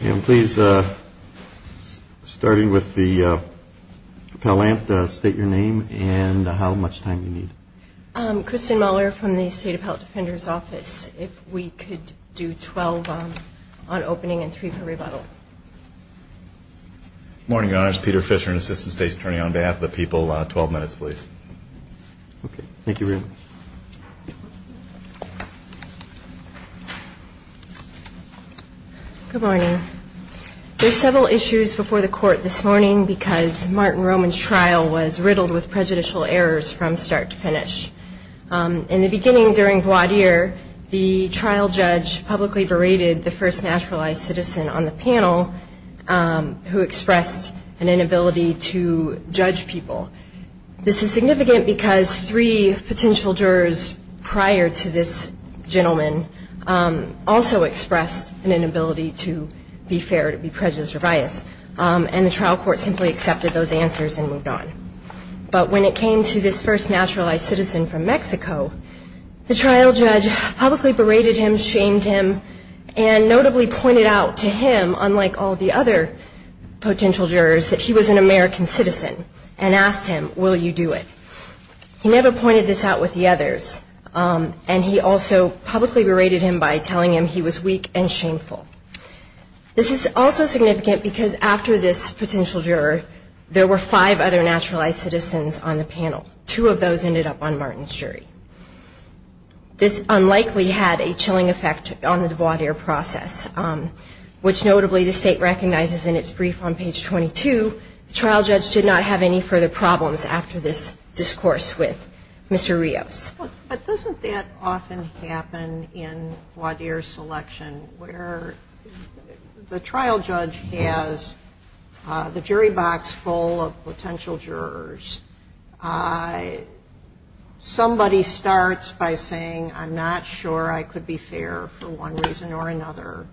And please, starting with the appellant, state your name and how much time you need. Kristen Muller from the State Appellate Defender's Office. If we could do 12 on opening and three for rebuttal. Good morning, Your Honors. Peter Fisher, an Assistant State's Attorney, on behalf of the people. 12 minutes, please. Thank you. Good morning. There are several issues before the court this morning because Martin Roman's trial was riddled with prejudicial errors from start to finish. In the beginning, during voir dire, the trial judge publicly berated the first naturalized citizen on the panel who expressed an inability to judge people. This is significant because three potential jurors prior to this gentleman also expressed an inability to be fair, to be prejudiced or biased. And the trial court simply accepted those answers and moved on. But when it came to this first naturalized citizen from Mexico, the trial judge publicly berated him, shamed him, and notably pointed out to him, unlike all the other potential jurors, that he was an American citizen and asked him, will you do it? He never pointed this out with the others, and he also publicly berated him by telling him he was weak and shameful. This is also significant because after this potential juror, there were five other naturalized citizens on the panel. This unlikely had a chilling effect on the voir dire process, which notably the State recognizes in its brief on page 22, the trial judge did not have any further problems after this discourse with Mr. Rios. But doesn't that often happen in voir dire selection where the trial judge has the jury box full of potential jurors, somebody starts by saying, I'm not sure I could be fair for one reason or another.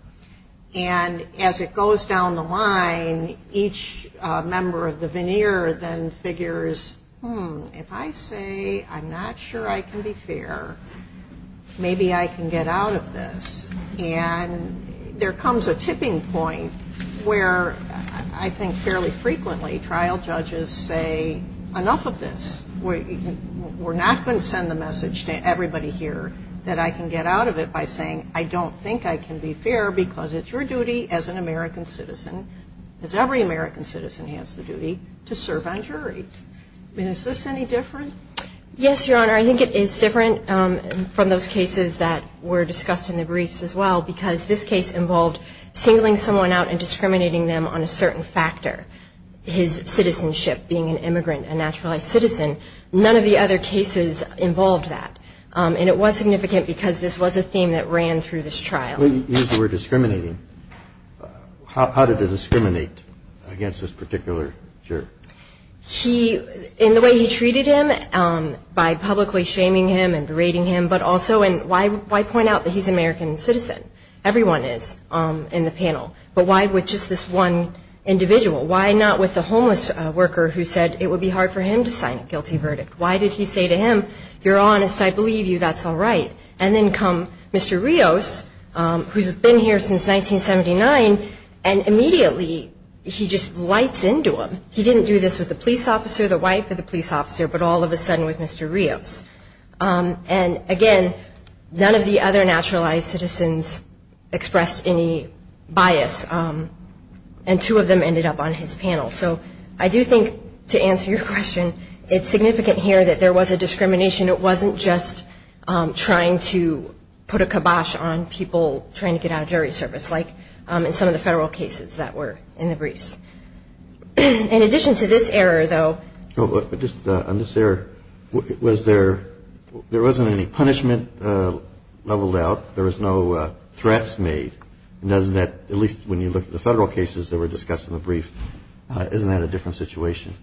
And as it goes down the line, each member of the veneer then figures, hmm, if I say I'm not sure I can be fair, maybe I can get out of this. And there comes a tipping point where I think fairly frequently trial judges say, enough of this. We're not going to send the message to everybody here that I can get out of it by saying I don't think I can be fair because it's your duty as an American citizen, as every American citizen has the duty, to serve on juries. I mean, is this any different? Yes, Your Honor. I think it is different from those cases that were discussed in the briefs as well because this case involved singling someone out and discriminating them on a certain factor, his citizenship, being an immigrant, a naturalized citizen. None of the other cases involved that. And it was significant because this was a theme that ran through this trial. When you use the word discriminating, how did it discriminate against this particular juror? He, in the way he treated him by publicly shaming him and berating him, but also why point out that he's an American citizen? Everyone is in the panel. But why with just this one individual? Why not with the homeless worker who said it would be hard for him to sign a guilty verdict? Why did he say to him, you're honest, I believe you, that's all right? And then come Mr. Rios, who's been here since 1979, and immediately he just lights into him. He didn't do this with the police officer, the wife of the police officer, but all of a sudden with Mr. Rios. And, again, none of the other naturalized citizens expressed any bias, and two of them ended up on his panel. So I do think, to answer your question, it's significant here that there was a discrimination. It wasn't just trying to put a kibosh on people trying to get out of jury service, like in some of the federal cases that were in the briefs. In addition to this error, though. On this error, was there – there wasn't any punishment leveled out. There was no threats made. Doesn't that – at least when you look at the federal cases that were discussed in the brief, isn't that a different situation?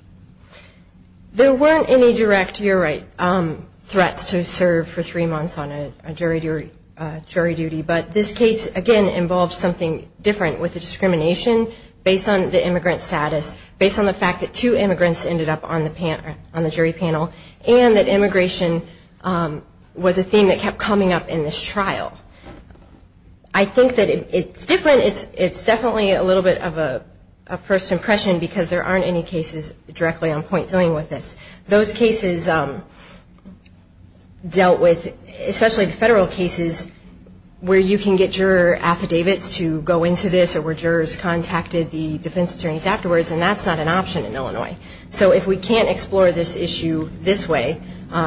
There weren't any direct – you're right. There weren't any threats to serve for three months on a jury duty. But this case, again, involved something different with the discrimination based on the immigrant status, based on the fact that two immigrants ended up on the jury panel, and that immigration was a theme that kept coming up in this trial. I think that it's different. It's definitely a little bit of a first impression because there aren't any cases directly on point dealing with this. Those cases dealt with – especially the federal cases where you can get juror affidavits to go into this or where jurors contacted the defense attorneys afterwards, and that's not an option in Illinois. So if we can't explore this issue this way,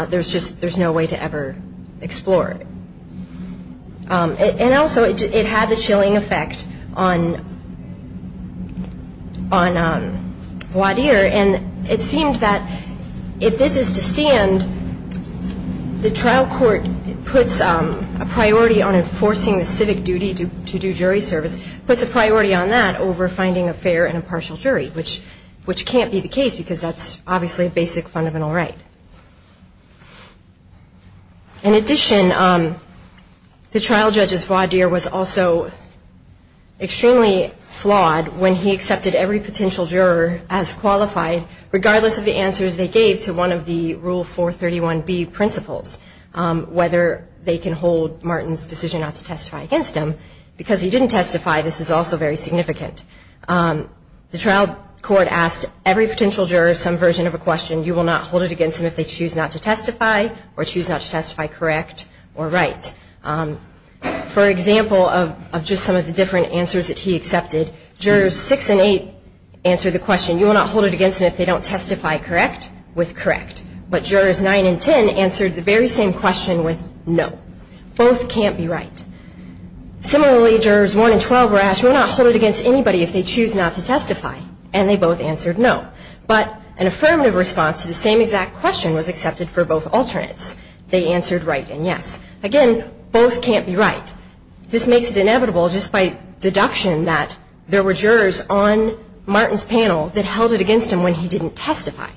there's just – there's no way to ever explore it. And also, it had the chilling effect on – on Voiadier. And it seemed that if this is to stand, the trial court puts a priority on enforcing the civic duty to do jury service, puts a priority on that over finding a fair and impartial jury, which can't be the case because that's obviously a basic fundamental right. In addition, the trial judge's Voiadier was also extremely flawed when he accepted every potential juror as qualified, regardless of the answers they gave to one of the Rule 431B principles, whether they can hold Martin's decision not to testify against him. Because he didn't testify, this is also very significant. The trial court asked every potential juror some version of a question, you will not hold it against them if they choose not to testify or choose not to testify correct or right. For example, of just some of the different answers that he accepted, jurors 6 and 8 answered the question, you will not hold it against them if they don't testify correct with correct. But jurors 9 and 10 answered the very same question with no. Both can't be right. Similarly, jurors 1 and 12 were asked, you will not hold it against anybody if they choose not to testify, and they both answered no. But an affirmative response to the same exact question was accepted for both alternates. They answered right and yes. Again, both can't be right. This makes it inevitable, just by deduction, that there were jurors on Martin's panel that held it against him when he didn't testify,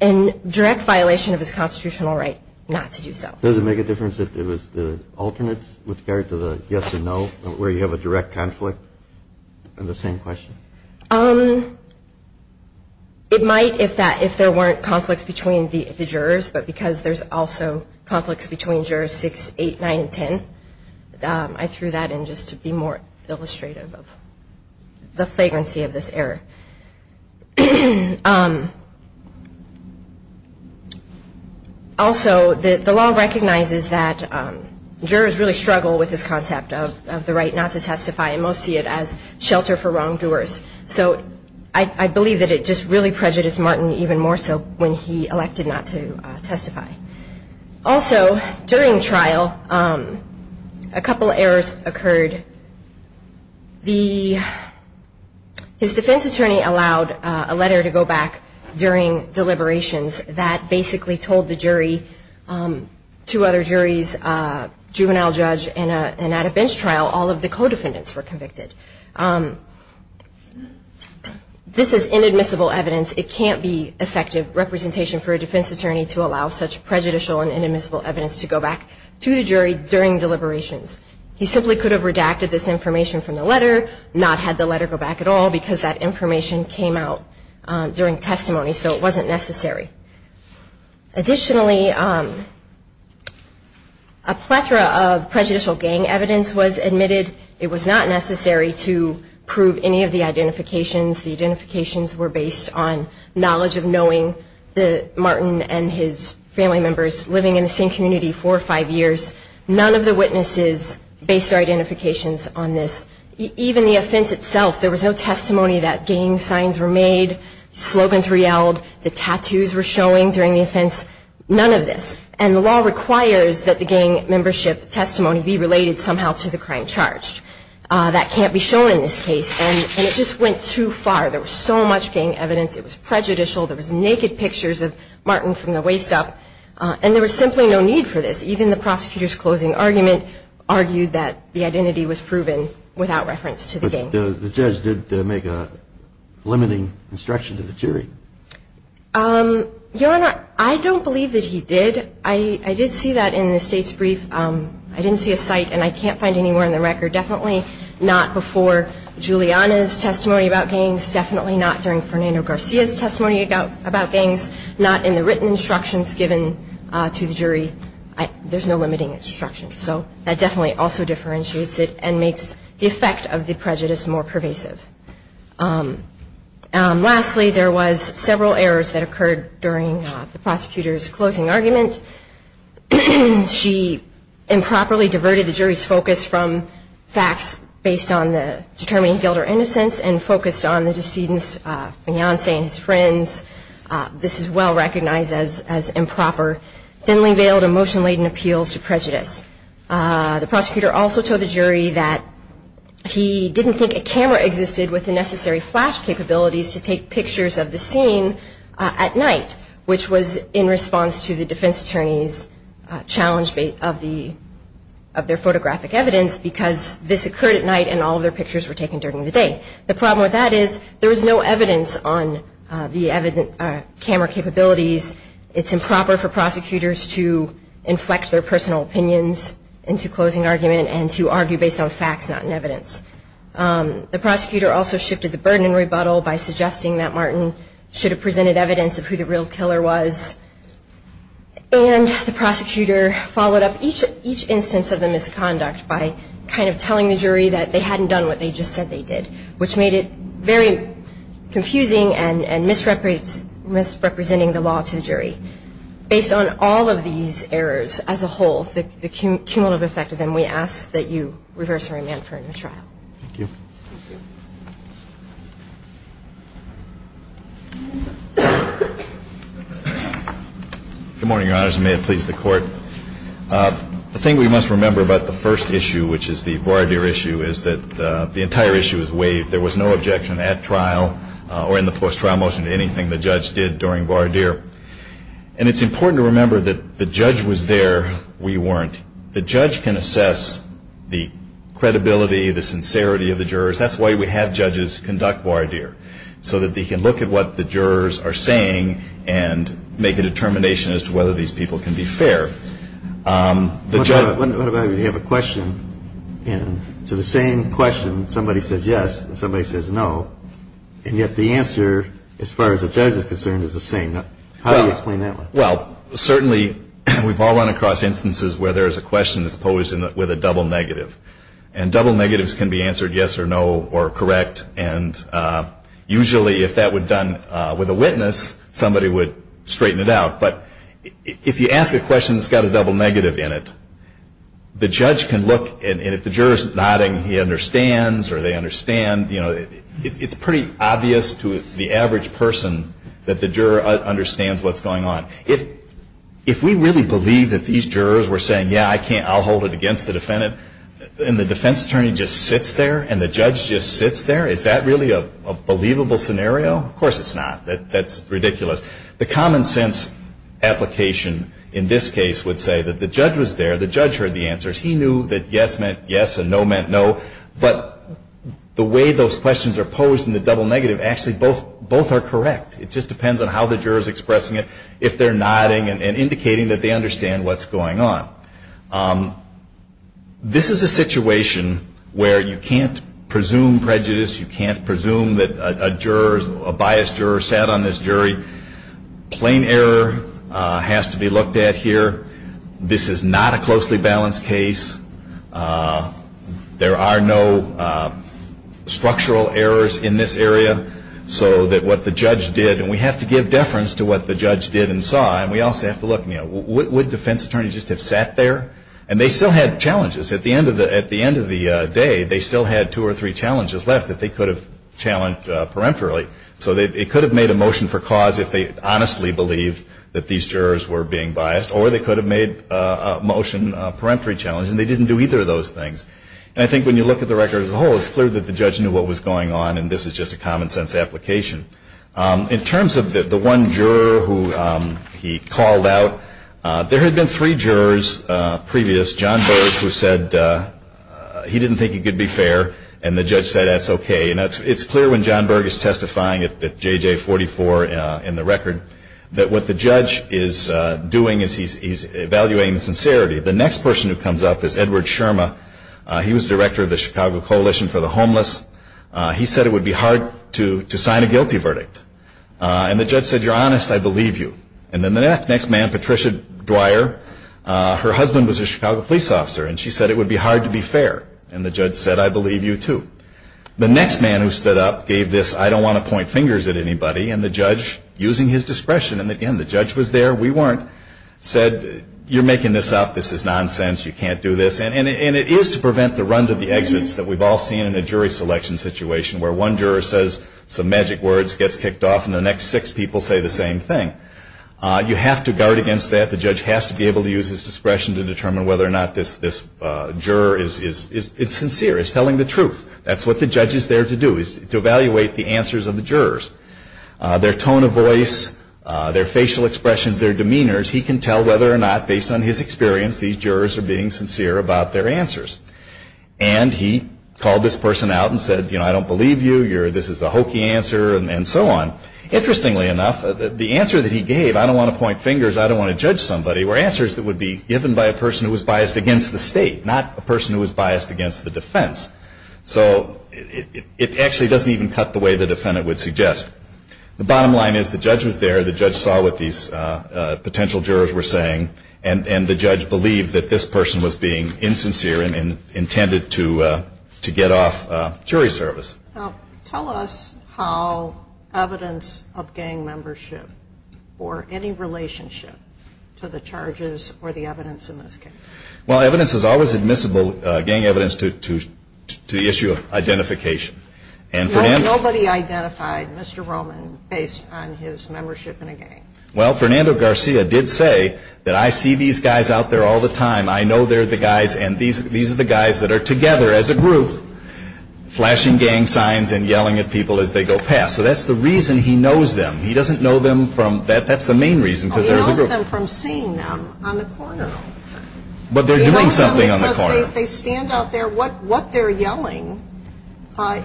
in direct violation of his constitutional right not to do so. Does it make a difference if it was the alternates with regard to the yes or no, where you have a direct conflict on the same question? It might if there weren't conflicts between the jurors, but because there's also conflicts between jurors 6, 8, 9, and 10, I threw that in just to be more illustrative of the flagrancy of this error. Also, the law recognizes that jurors really struggle with this concept of the right not to testify, and most see it as shelter for wrongdoers. So I believe that it just really prejudiced Martin even more so when he elected not to testify. Also, during trial, a couple errors occurred. His defense attorney allowed a letter to go back during deliberations that basically told the jury, two other juries, juvenile judge, and at a bench trial, all of the co-defendants were convicted. This is inadmissible evidence. It can't be effective representation for a defense attorney to allow such prejudicial and inadmissible evidence to go back to the jury during deliberations. He simply could have redacted this information from the letter, not had the letter go back at all, because that information came out during testimony, so it wasn't necessary. Additionally, a plethora of prejudicial gang evidence was admitted. It was not necessary to prove any of the identifications. The identifications were based on knowledge of knowing Martin and his family members living in the same community four or five years. None of the witnesses based their identifications on this. Even the offense itself, there was no testimony that gang signs were made, slogans were yelled, the tattoos were showing during the offense, none of this. And the law requires that the gang membership testimony be related somehow to the crime charged. That can't be shown in this case, and it just went too far. There was so much gang evidence. It was prejudicial. There was naked pictures of Martin from the waist up, and there was simply no need for this. Even the prosecutor's closing argument argued that the identity was proven without reference to the gang. So the judge did make a limiting instruction to the jury. Your Honor, I don't believe that he did. I did see that in the State's brief. I didn't see a cite, and I can't find any more in the record. Definitely not before Juliana's testimony about gangs. Definitely not during Fernando Garcia's testimony about gangs. Not in the written instructions given to the jury. There's no limiting instruction. So that definitely also differentiates it and makes the effect of the prejudice more pervasive. Lastly, there was several errors that occurred during the prosecutor's closing argument. She improperly diverted the jury's focus from facts based on the determining guilt or innocence and focused on the decedent's fiancé and his friends. This is well recognized as improper. Thinly veiled, emotion-laden appeals to prejudice. The prosecutor also told the jury that he didn't think a camera existed with the necessary flash capabilities to take pictures of the scene at night, which was in response to the defense attorney's challenge of their photographic evidence because this occurred at night and all of their pictures were taken during the day. The problem with that is there was no evidence on the camera capabilities. It's improper for prosecutors to inflect their personal opinions into closing argument and to argue based on facts, not in evidence. The prosecutor also shifted the burden in rebuttal by suggesting that Martin should have presented evidence of who the real killer was. And the prosecutor followed up each instance of the misconduct by kind of telling the jury that they hadn't done what they just said they did, which made it very confusing and misrepresenting the law to a jury. Based on all of these errors as a whole, the cumulative effect of them, we ask that you reverse her amendment for a new trial. Thank you. Thank you. Good morning, Your Honors. And may it please the Court. The thing we must remember about the first issue, which is the voir dire issue, is that the entire issue is waived. There was no objection at trial or in the post-trial motion to anything the judge did during voir dire. And it's important to remember that the judge was there. We weren't. The judge can assess the credibility, the sincerity of the jurors. That's why we have judges conduct voir dire, so that they can look at what the jurors are saying and make a determination as to whether these people can be fair. What about if you have a question and to the same question somebody says yes and somebody says no, and yet the answer as far as the judge is concerned is the same? How do you explain that one? Well, certainly we've all run across instances where there is a question that's posed with a double negative. And double negatives can be answered yes or no or correct. And usually if that were done with a witness, somebody would straighten it out. But if you ask a question that's got a double negative in it, the judge can look, and if the juror is nodding he understands or they understand, it's pretty obvious to the average person that the juror understands what's going on. If we really believe that these jurors were saying, yeah, I'll hold it against the defendant, and the defense attorney just sits there and the judge just sits there, is that really a believable scenario? Of course it's not. That's ridiculous. The common sense application in this case would say that the judge was there. The judge heard the answers. He knew that yes meant yes and no meant no. But the way those questions are posed in the double negative, actually both are correct. It just depends on how the juror is expressing it. If they're nodding and indicating that they understand what's going on. This is a situation where you can't presume prejudice. You can't presume that a juror, a biased juror sat on this jury. Plain error has to be looked at here. This is not a closely balanced case. There are no structural errors in this area. So that what the judge did, and we have to give deference to what the judge did and saw, and we also have to look, you know, would defense attorneys just have sat there? And they still had challenges. At the end of the day, they still had two or three challenges left that they could have challenged peremptorily. So they could have made a motion for cause if they honestly believed that these jurors were being biased, or they could have made a motion, a peremptory challenge, and they didn't do either of those things. And I think when you look at the record as a whole, it's clear that the judge knew what was going on, and this is just a common sense application. In terms of the one juror who he called out, there had been three jurors previous. John Berg, who said he didn't think he could be fair, and the judge said that's okay. And it's clear when John Berg is testifying at JJ44 in the record, that what the judge is doing is he's evaluating the sincerity. The next person who comes up is Edward Sherma. He was director of the Chicago Coalition for the Homeless. He said it would be hard to sign a guilty verdict. And the judge said, you're honest, I believe you. And then the next man, Patricia Dwyer, her husband was a Chicago police officer, and she said it would be hard to be fair. And the judge said, I believe you, too. The next man who stood up gave this I don't want to point fingers at anybody, and the judge, using his discretion, and again, the judge was there, we weren't, said you're making this up, this is nonsense, you can't do this. And it is to prevent the run to the exits that we've all seen in a jury selection situation where one juror says some magic words, gets kicked off, and the next six people say the same thing. You have to guard against that. The judge has to be able to use his discretion to determine whether or not this juror is sincere, is telling the truth. That's what the judge is there to do, is to evaluate the answers of the jurors. Their tone of voice, their facial expressions, their demeanors, he can tell whether or not, based on his experience, these jurors are being sincere about their answers. And he called this person out and said, you know, I don't believe you, this is a hokey answer, and so on. Interestingly enough, the answer that he gave, I don't want to point fingers, I don't want to judge somebody, were answers that would be given by a person who was biased against the state, not a person who was biased against the defense. So it actually doesn't even cut the way the defendant would suggest. The bottom line is the judge was there, the judge saw what these potential jurors were saying, and the judge believed that this person was being insincere and intended to get off jury service. Tell us how evidence of gang membership or any relationship to the charges or the evidence in this case. Well, evidence is always admissible, gang evidence, to the issue of identification. Nobody identified Mr. Roman based on his membership in a gang. Well, Fernando Garcia did say that I see these guys out there all the time. I know they're the guys, and these are the guys that are together as a group flashing gang signs and yelling at people as they go past. So that's the reason he knows them. He doesn't know them from, that's the main reason, because there's a group. He knows them from seeing them on the corner. But they're doing something on the corner. They know them because they stand out there. What they're yelling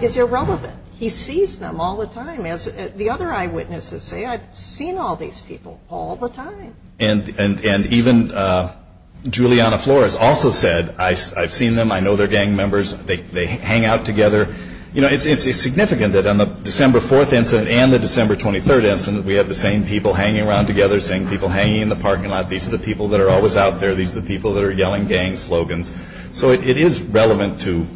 is irrelevant. He sees them all the time. As the other eyewitnesses say, I've seen all these people all the time. And even Juliana Flores also said, I've seen them. I know they're gang members. They hang out together. You know, it's significant that on the December 4th incident and the December 23rd incident, we have the same people hanging around together, the same people hanging in the parking lot. These are the people that are always out there. These are the people that are yelling gang slogans. So it is relevant to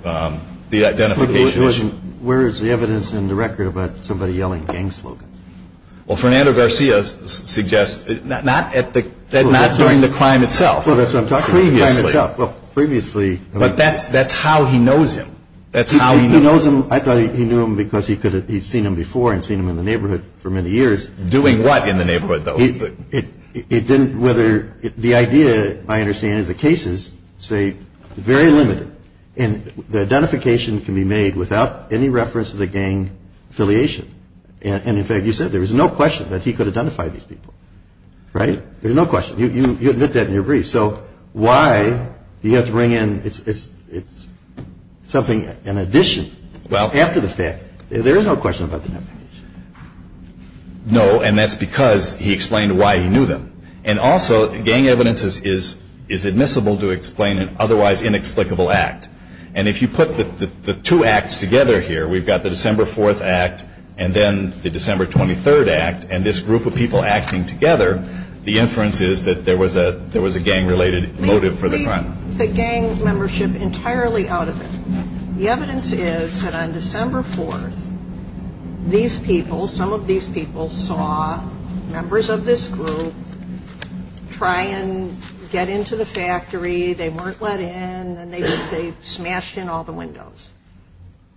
the identification issue. Where is the evidence in the record about somebody yelling gang slogans? Well, Fernando Garcia suggests not during the crime itself. Well, that's what I'm talking about. Previously. Well, previously. But that's how he knows him. That's how he knows him. I thought he knew him because he'd seen him before and seen him in the neighborhood for many years. Doing what in the neighborhood, though? It didn't, whether, the idea, my understanding of the case is, say, very limited. And the identification can be made without any reference to the gang affiliation. And, in fact, you said there was no question that he could identify these people, right? There's no question. You admit that in your brief. So why do you have to bring in something in addition after the fact? There is no question about the identification. No, and that's because he explained why he knew them. And also, gang evidence is admissible to explain an otherwise inexplicable act. And if you put the two acts together here, we've got the December 4th act and then the December 23rd act, and this group of people acting together, the inference is that there was a gang-related motive for the crime. Leave the gang membership entirely out of it. The evidence is that on December 4th, these people, some of these people, saw members of this group try and get into the factory. They weren't let in, and they smashed in all the windows.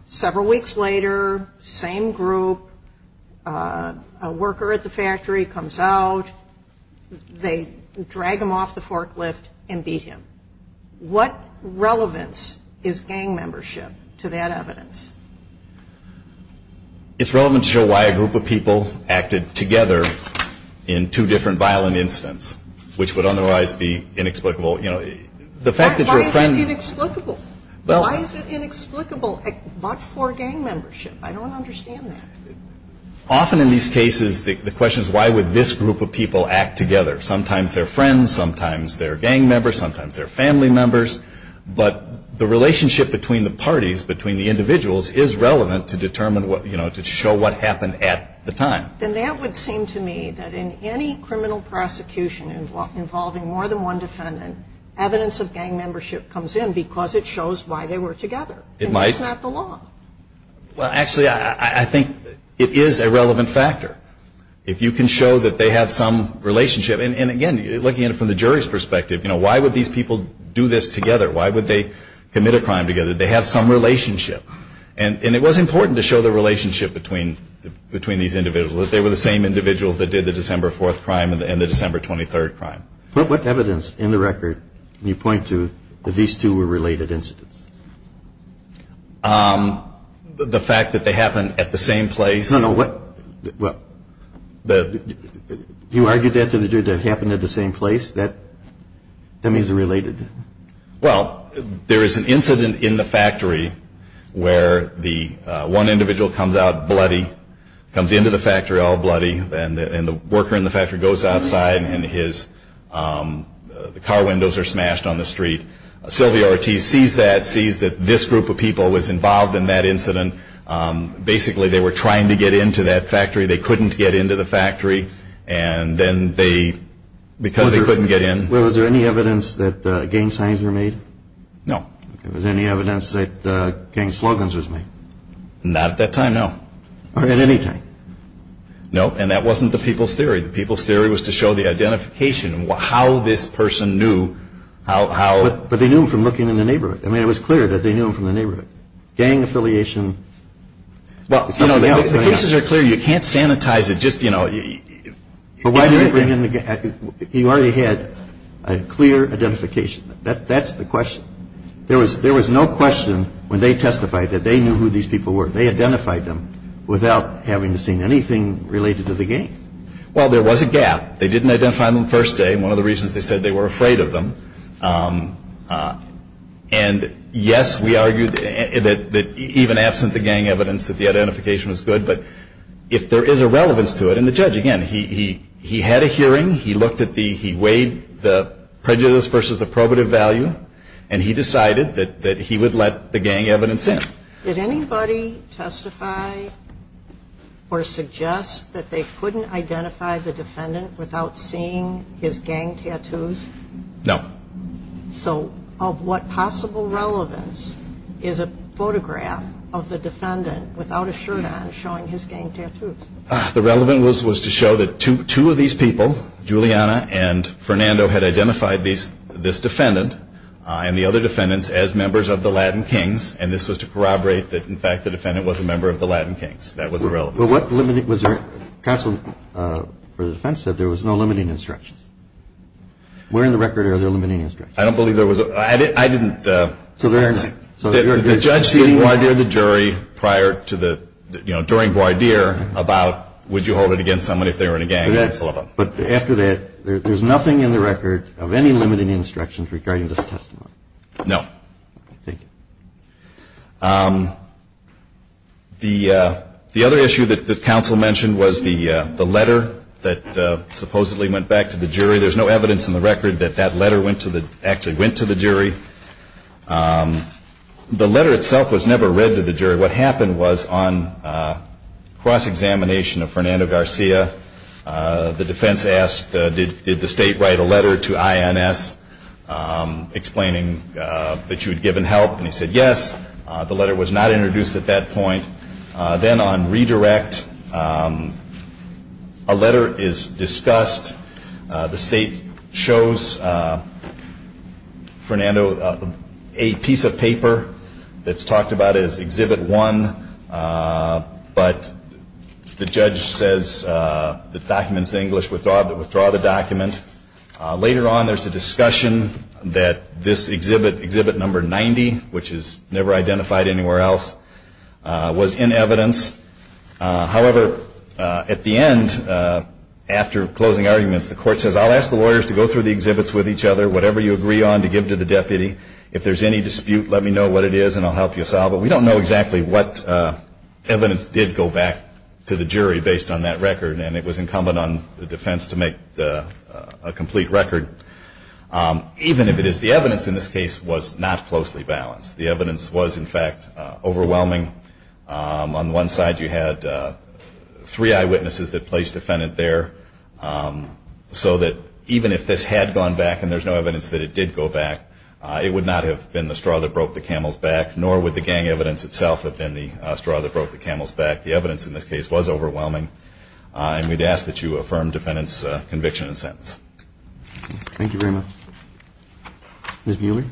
Several weeks later, same group, a worker at the factory comes out. They drag him off the forklift and beat him. What relevance is gang membership to that evidence? It's relevant to show why a group of people acted together in two different violent incidents, which would otherwise be inexplicable. Why is it inexplicable? Why is it inexplicable for gang membership? I don't understand that. Often in these cases, the question is why would this group of people act together? Sometimes they're friends. Sometimes they're gang members. Sometimes they're family members. But the relationship between the parties, between the individuals, is relevant to determine what, you know, to show what happened at the time. Then that would seem to me that in any criminal prosecution involving more than one defendant, evidence of gang membership comes in because it shows why they were together. It might. And that's not the law. Well, actually, I think it is a relevant factor. If you can show that they have some relationship, and, again, looking at it from the jury's perspective, you know, why would these people do this together? Why would they commit a crime together? They have some relationship. And it was important to show the relationship between these individuals, that they were the same individuals that did the December 4th crime and the December 23rd crime. But what evidence in the record can you point to that these two were related incidents? The fact that they happened at the same place? No, no. You argued that they happened at the same place? That means they're related. Well, there is an incident in the factory where the one individual comes out bloody, comes into the factory all bloody, and the worker in the factory goes outside and his car windows are smashed on the street. Sylvia Ortiz sees that, sees that this group of people was involved in that incident. Basically, they were trying to get into that factory. They couldn't get into the factory. And then they, because they couldn't get in. Was there any evidence that gang signs were made? No. Was there any evidence that gang slogans were made? Not at that time, no. Or at any time? No, and that wasn't the people's theory. The people's theory was to show the identification and how this person knew how. But they knew him from looking in the neighborhood. I mean, it was clear that they knew him from the neighborhood. Gang affiliation. Well, you know, the cases are clear. You can't sanitize it. Just, you know. You already had a clear identification. That's the question. There was no question when they testified that they knew who these people were. They identified them without having seen anything related to the gang. Well, there was a gap. They didn't identify them the first day. One of the reasons they said they were afraid of them. And, yes, we argue that even absent the gang evidence, that the identification was good. But if there is a relevance to it, and the judge, again, he had a hearing. He weighed the prejudice versus the probative value. And he decided that he would let the gang evidence in. Did anybody testify or suggest that they couldn't identify the defendant without seeing his gang tattoos? No. So of what possible relevance is a photograph of the defendant without a shirt on showing his gang tattoos? The relevance was to show that two of these people, Juliana and Fernando, had identified this defendant and the other defendants as members of the Latin Kings. And this was to corroborate that, in fact, the defendant was a member of the Latin Kings. That was the relevance. But what limit was there? Counsel for the defense said there was no limiting instructions. Where in the record are there limiting instructions? I don't believe there was. I didn't. So there are none. The judge did wardeer the jury prior to the, you know, during wardeer about, would you hold it against someone if they were in a gang? Yes. But after that, there's nothing in the record of any limiting instructions regarding this testimony. No. Thank you. The other issue that counsel mentioned was the letter that supposedly went back to the jury. There's no evidence in the record that that letter actually went to the jury. The letter itself was never read to the jury. What happened was on cross-examination of Fernando Garcia, the defense asked, did the state write a letter to INS explaining that you had given help? And he said yes. The letter was not introduced at that point. Then on redirect, a letter is discussed. The state shows Fernando a piece of paper that's talked about as Exhibit 1, but the judge says the document's English. Withdraw the document. Later on, there's a discussion that this exhibit, Exhibit Number 90, which is never identified anywhere else, was in evidence. However, at the end, after closing arguments, the court says, I'll ask the lawyers to go through the exhibits with each other, whatever you agree on to give to the deputy. If there's any dispute, let me know what it is and I'll help you solve it. We don't know exactly what evidence did go back to the jury based on that record, and it was incumbent on the defense to make a complete record. Even if it is, the evidence in this case was not closely balanced. The evidence was, in fact, overwhelming. On one side, you had three eyewitnesses that placed defendant there, so that even if this had gone back and there's no evidence that it did go back, it would not have been the straw that broke the camel's back, nor would the gang evidence itself have been the straw that broke the camel's back. The evidence in this case was overwhelming, and we'd ask that you affirm defendant's conviction and sentence. Thank you very much. Ms. Buehler?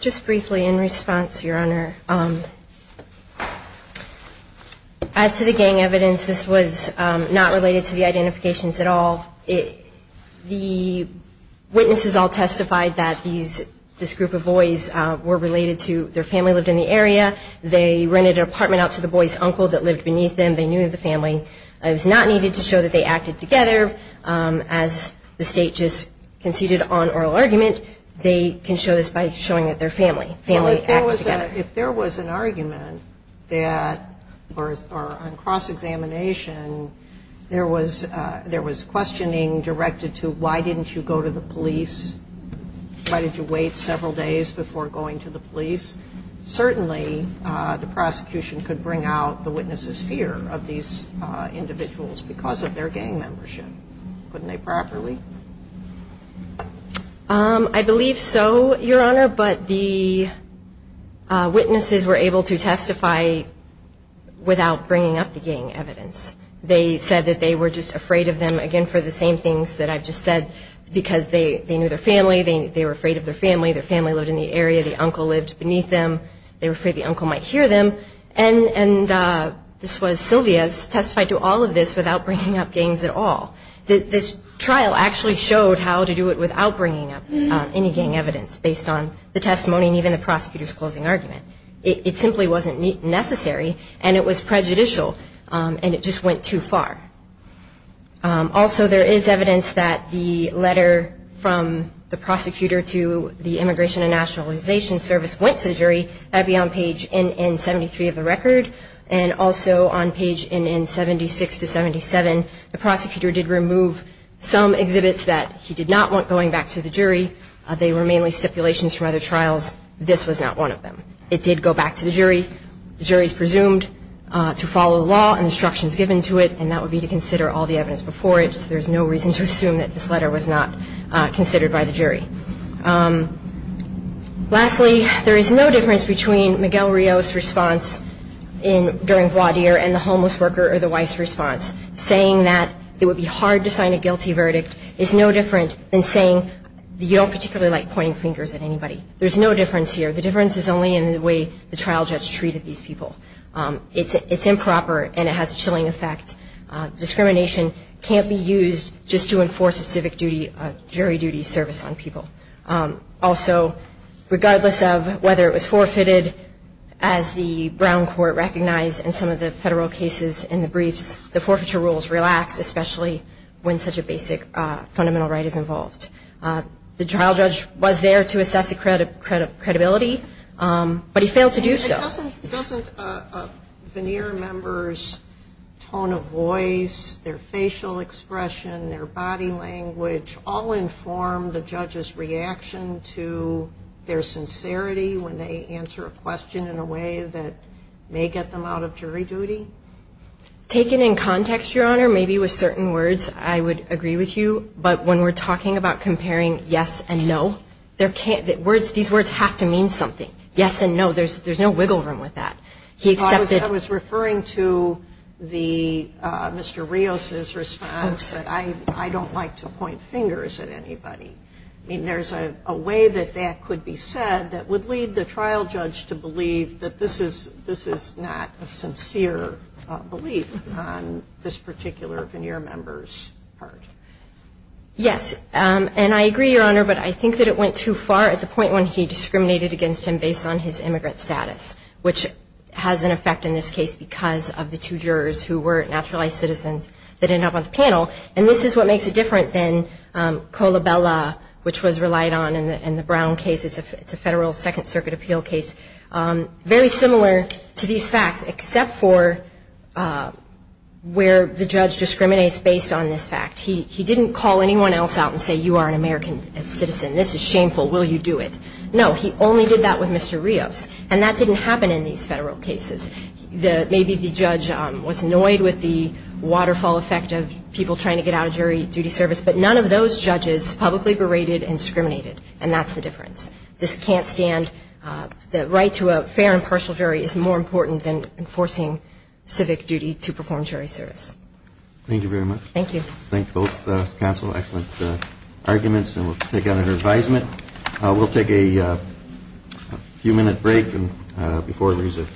Just briefly, in response, Your Honor, as to the gang evidence, this was not related to the identifications at all. The witnesses all testified that this group of boys were related to their family lived in the area. They rented an apartment out to the boy's uncle that lived beneath them. They knew the family. It was not needed to show that they acted together. As the State just conceded on oral argument, they can show this by showing that their family acted together. Well, if there was an argument that, or on cross-examination, there was questioning directed to why didn't you go to the police, why did you wait several days before going to the police, certainly the prosecution could bring out the witness's fear of these individuals because of their gang membership. Couldn't they properly? I believe so, Your Honor, but the witnesses were able to testify without bringing up the gang evidence. They said that they were just afraid of them, again, for the same things that I've just said, because they knew their family. They were afraid of their family. Their family lived in the area. The uncle lived beneath them. They were afraid the uncle might hear them. And this was, Sylvia has testified to all of this without bringing up gangs at all. This trial actually showed how to do it without bringing up any gang evidence, based on the testimony and even the prosecutor's closing argument. It simply wasn't necessary, and it was prejudicial, and it just went too far. Also, there is evidence that the letter from the prosecutor to the Immigration and Nationalization Service went to the jury. That would be on page NN73 of the record, and also on page NN76 to 77, the prosecutor did remove some exhibits that he did not want going back to the jury. They were mainly stipulations from other trials. This was not one of them. It did go back to the jury. The jury is presumed to follow the law and the instructions given to it, and that would be to consider all the evidence before it, so there's no reason to assume that this letter was not considered by the jury. Lastly, there is no difference between Miguel Rios' response during voir dire and the homeless worker or the wife's response. Saying that it would be hard to sign a guilty verdict is no different than saying you don't particularly like pointing fingers at anybody. There's no difference here. The difference is only in the way the trial judge treated these people. It's improper, and it has a chilling effect. Discrimination can't be used just to enforce a civic duty, a jury duty service on people. Also, regardless of whether it was forfeited, as the Brown Court recognized in some of the federal cases in the briefs, the forfeiture rules relax, especially when such a basic fundamental right is involved. The trial judge was there to assess the credibility, but he failed to do so. Doesn't a veneer member's tone of voice, their facial expression, their body language, all inform the judge's reaction to their sincerity when they answer a question in a way that may get them out of jury duty? Taken in context, Your Honor, maybe with certain words I would agree with you, but when we're talking about comparing yes and no, these words have to mean something. Yes and no, there's no wiggle room with that. I was referring to Mr. Rios' response that I don't like to point fingers at anybody. I mean, there's a way that that could be said that would lead the trial judge to believe that this is not a sincere belief on this particular veneer member's part. Yes, and I agree, Your Honor, but I think that it went too far at the point when he discriminated against him based on his immigrant status, which has an effect in this case because of the two jurors who were naturalized citizens that end up on the panel. And this is what makes it different than Colabella, which was relied on in the Brown case. It's a federal Second Circuit appeal case. Very similar to these facts, except for where the judge discriminates based on this fact. He didn't call anyone else out and say, you are an American citizen. This is shameful. Will you do it? No, he only did that with Mr. Rios, and that didn't happen in these federal cases. Maybe the judge was annoyed with the waterfall effect of people trying to get out of jury duty service, but none of those judges publicly berated and discriminated, and that's the difference. This can't stand. The right to a fair and partial jury is more important than enforcing civic duty to perform jury service. Thank you very much. Thank you. Thank both counsel. Excellent arguments, and we'll take it under advisement. We'll take a few minute break before we resume.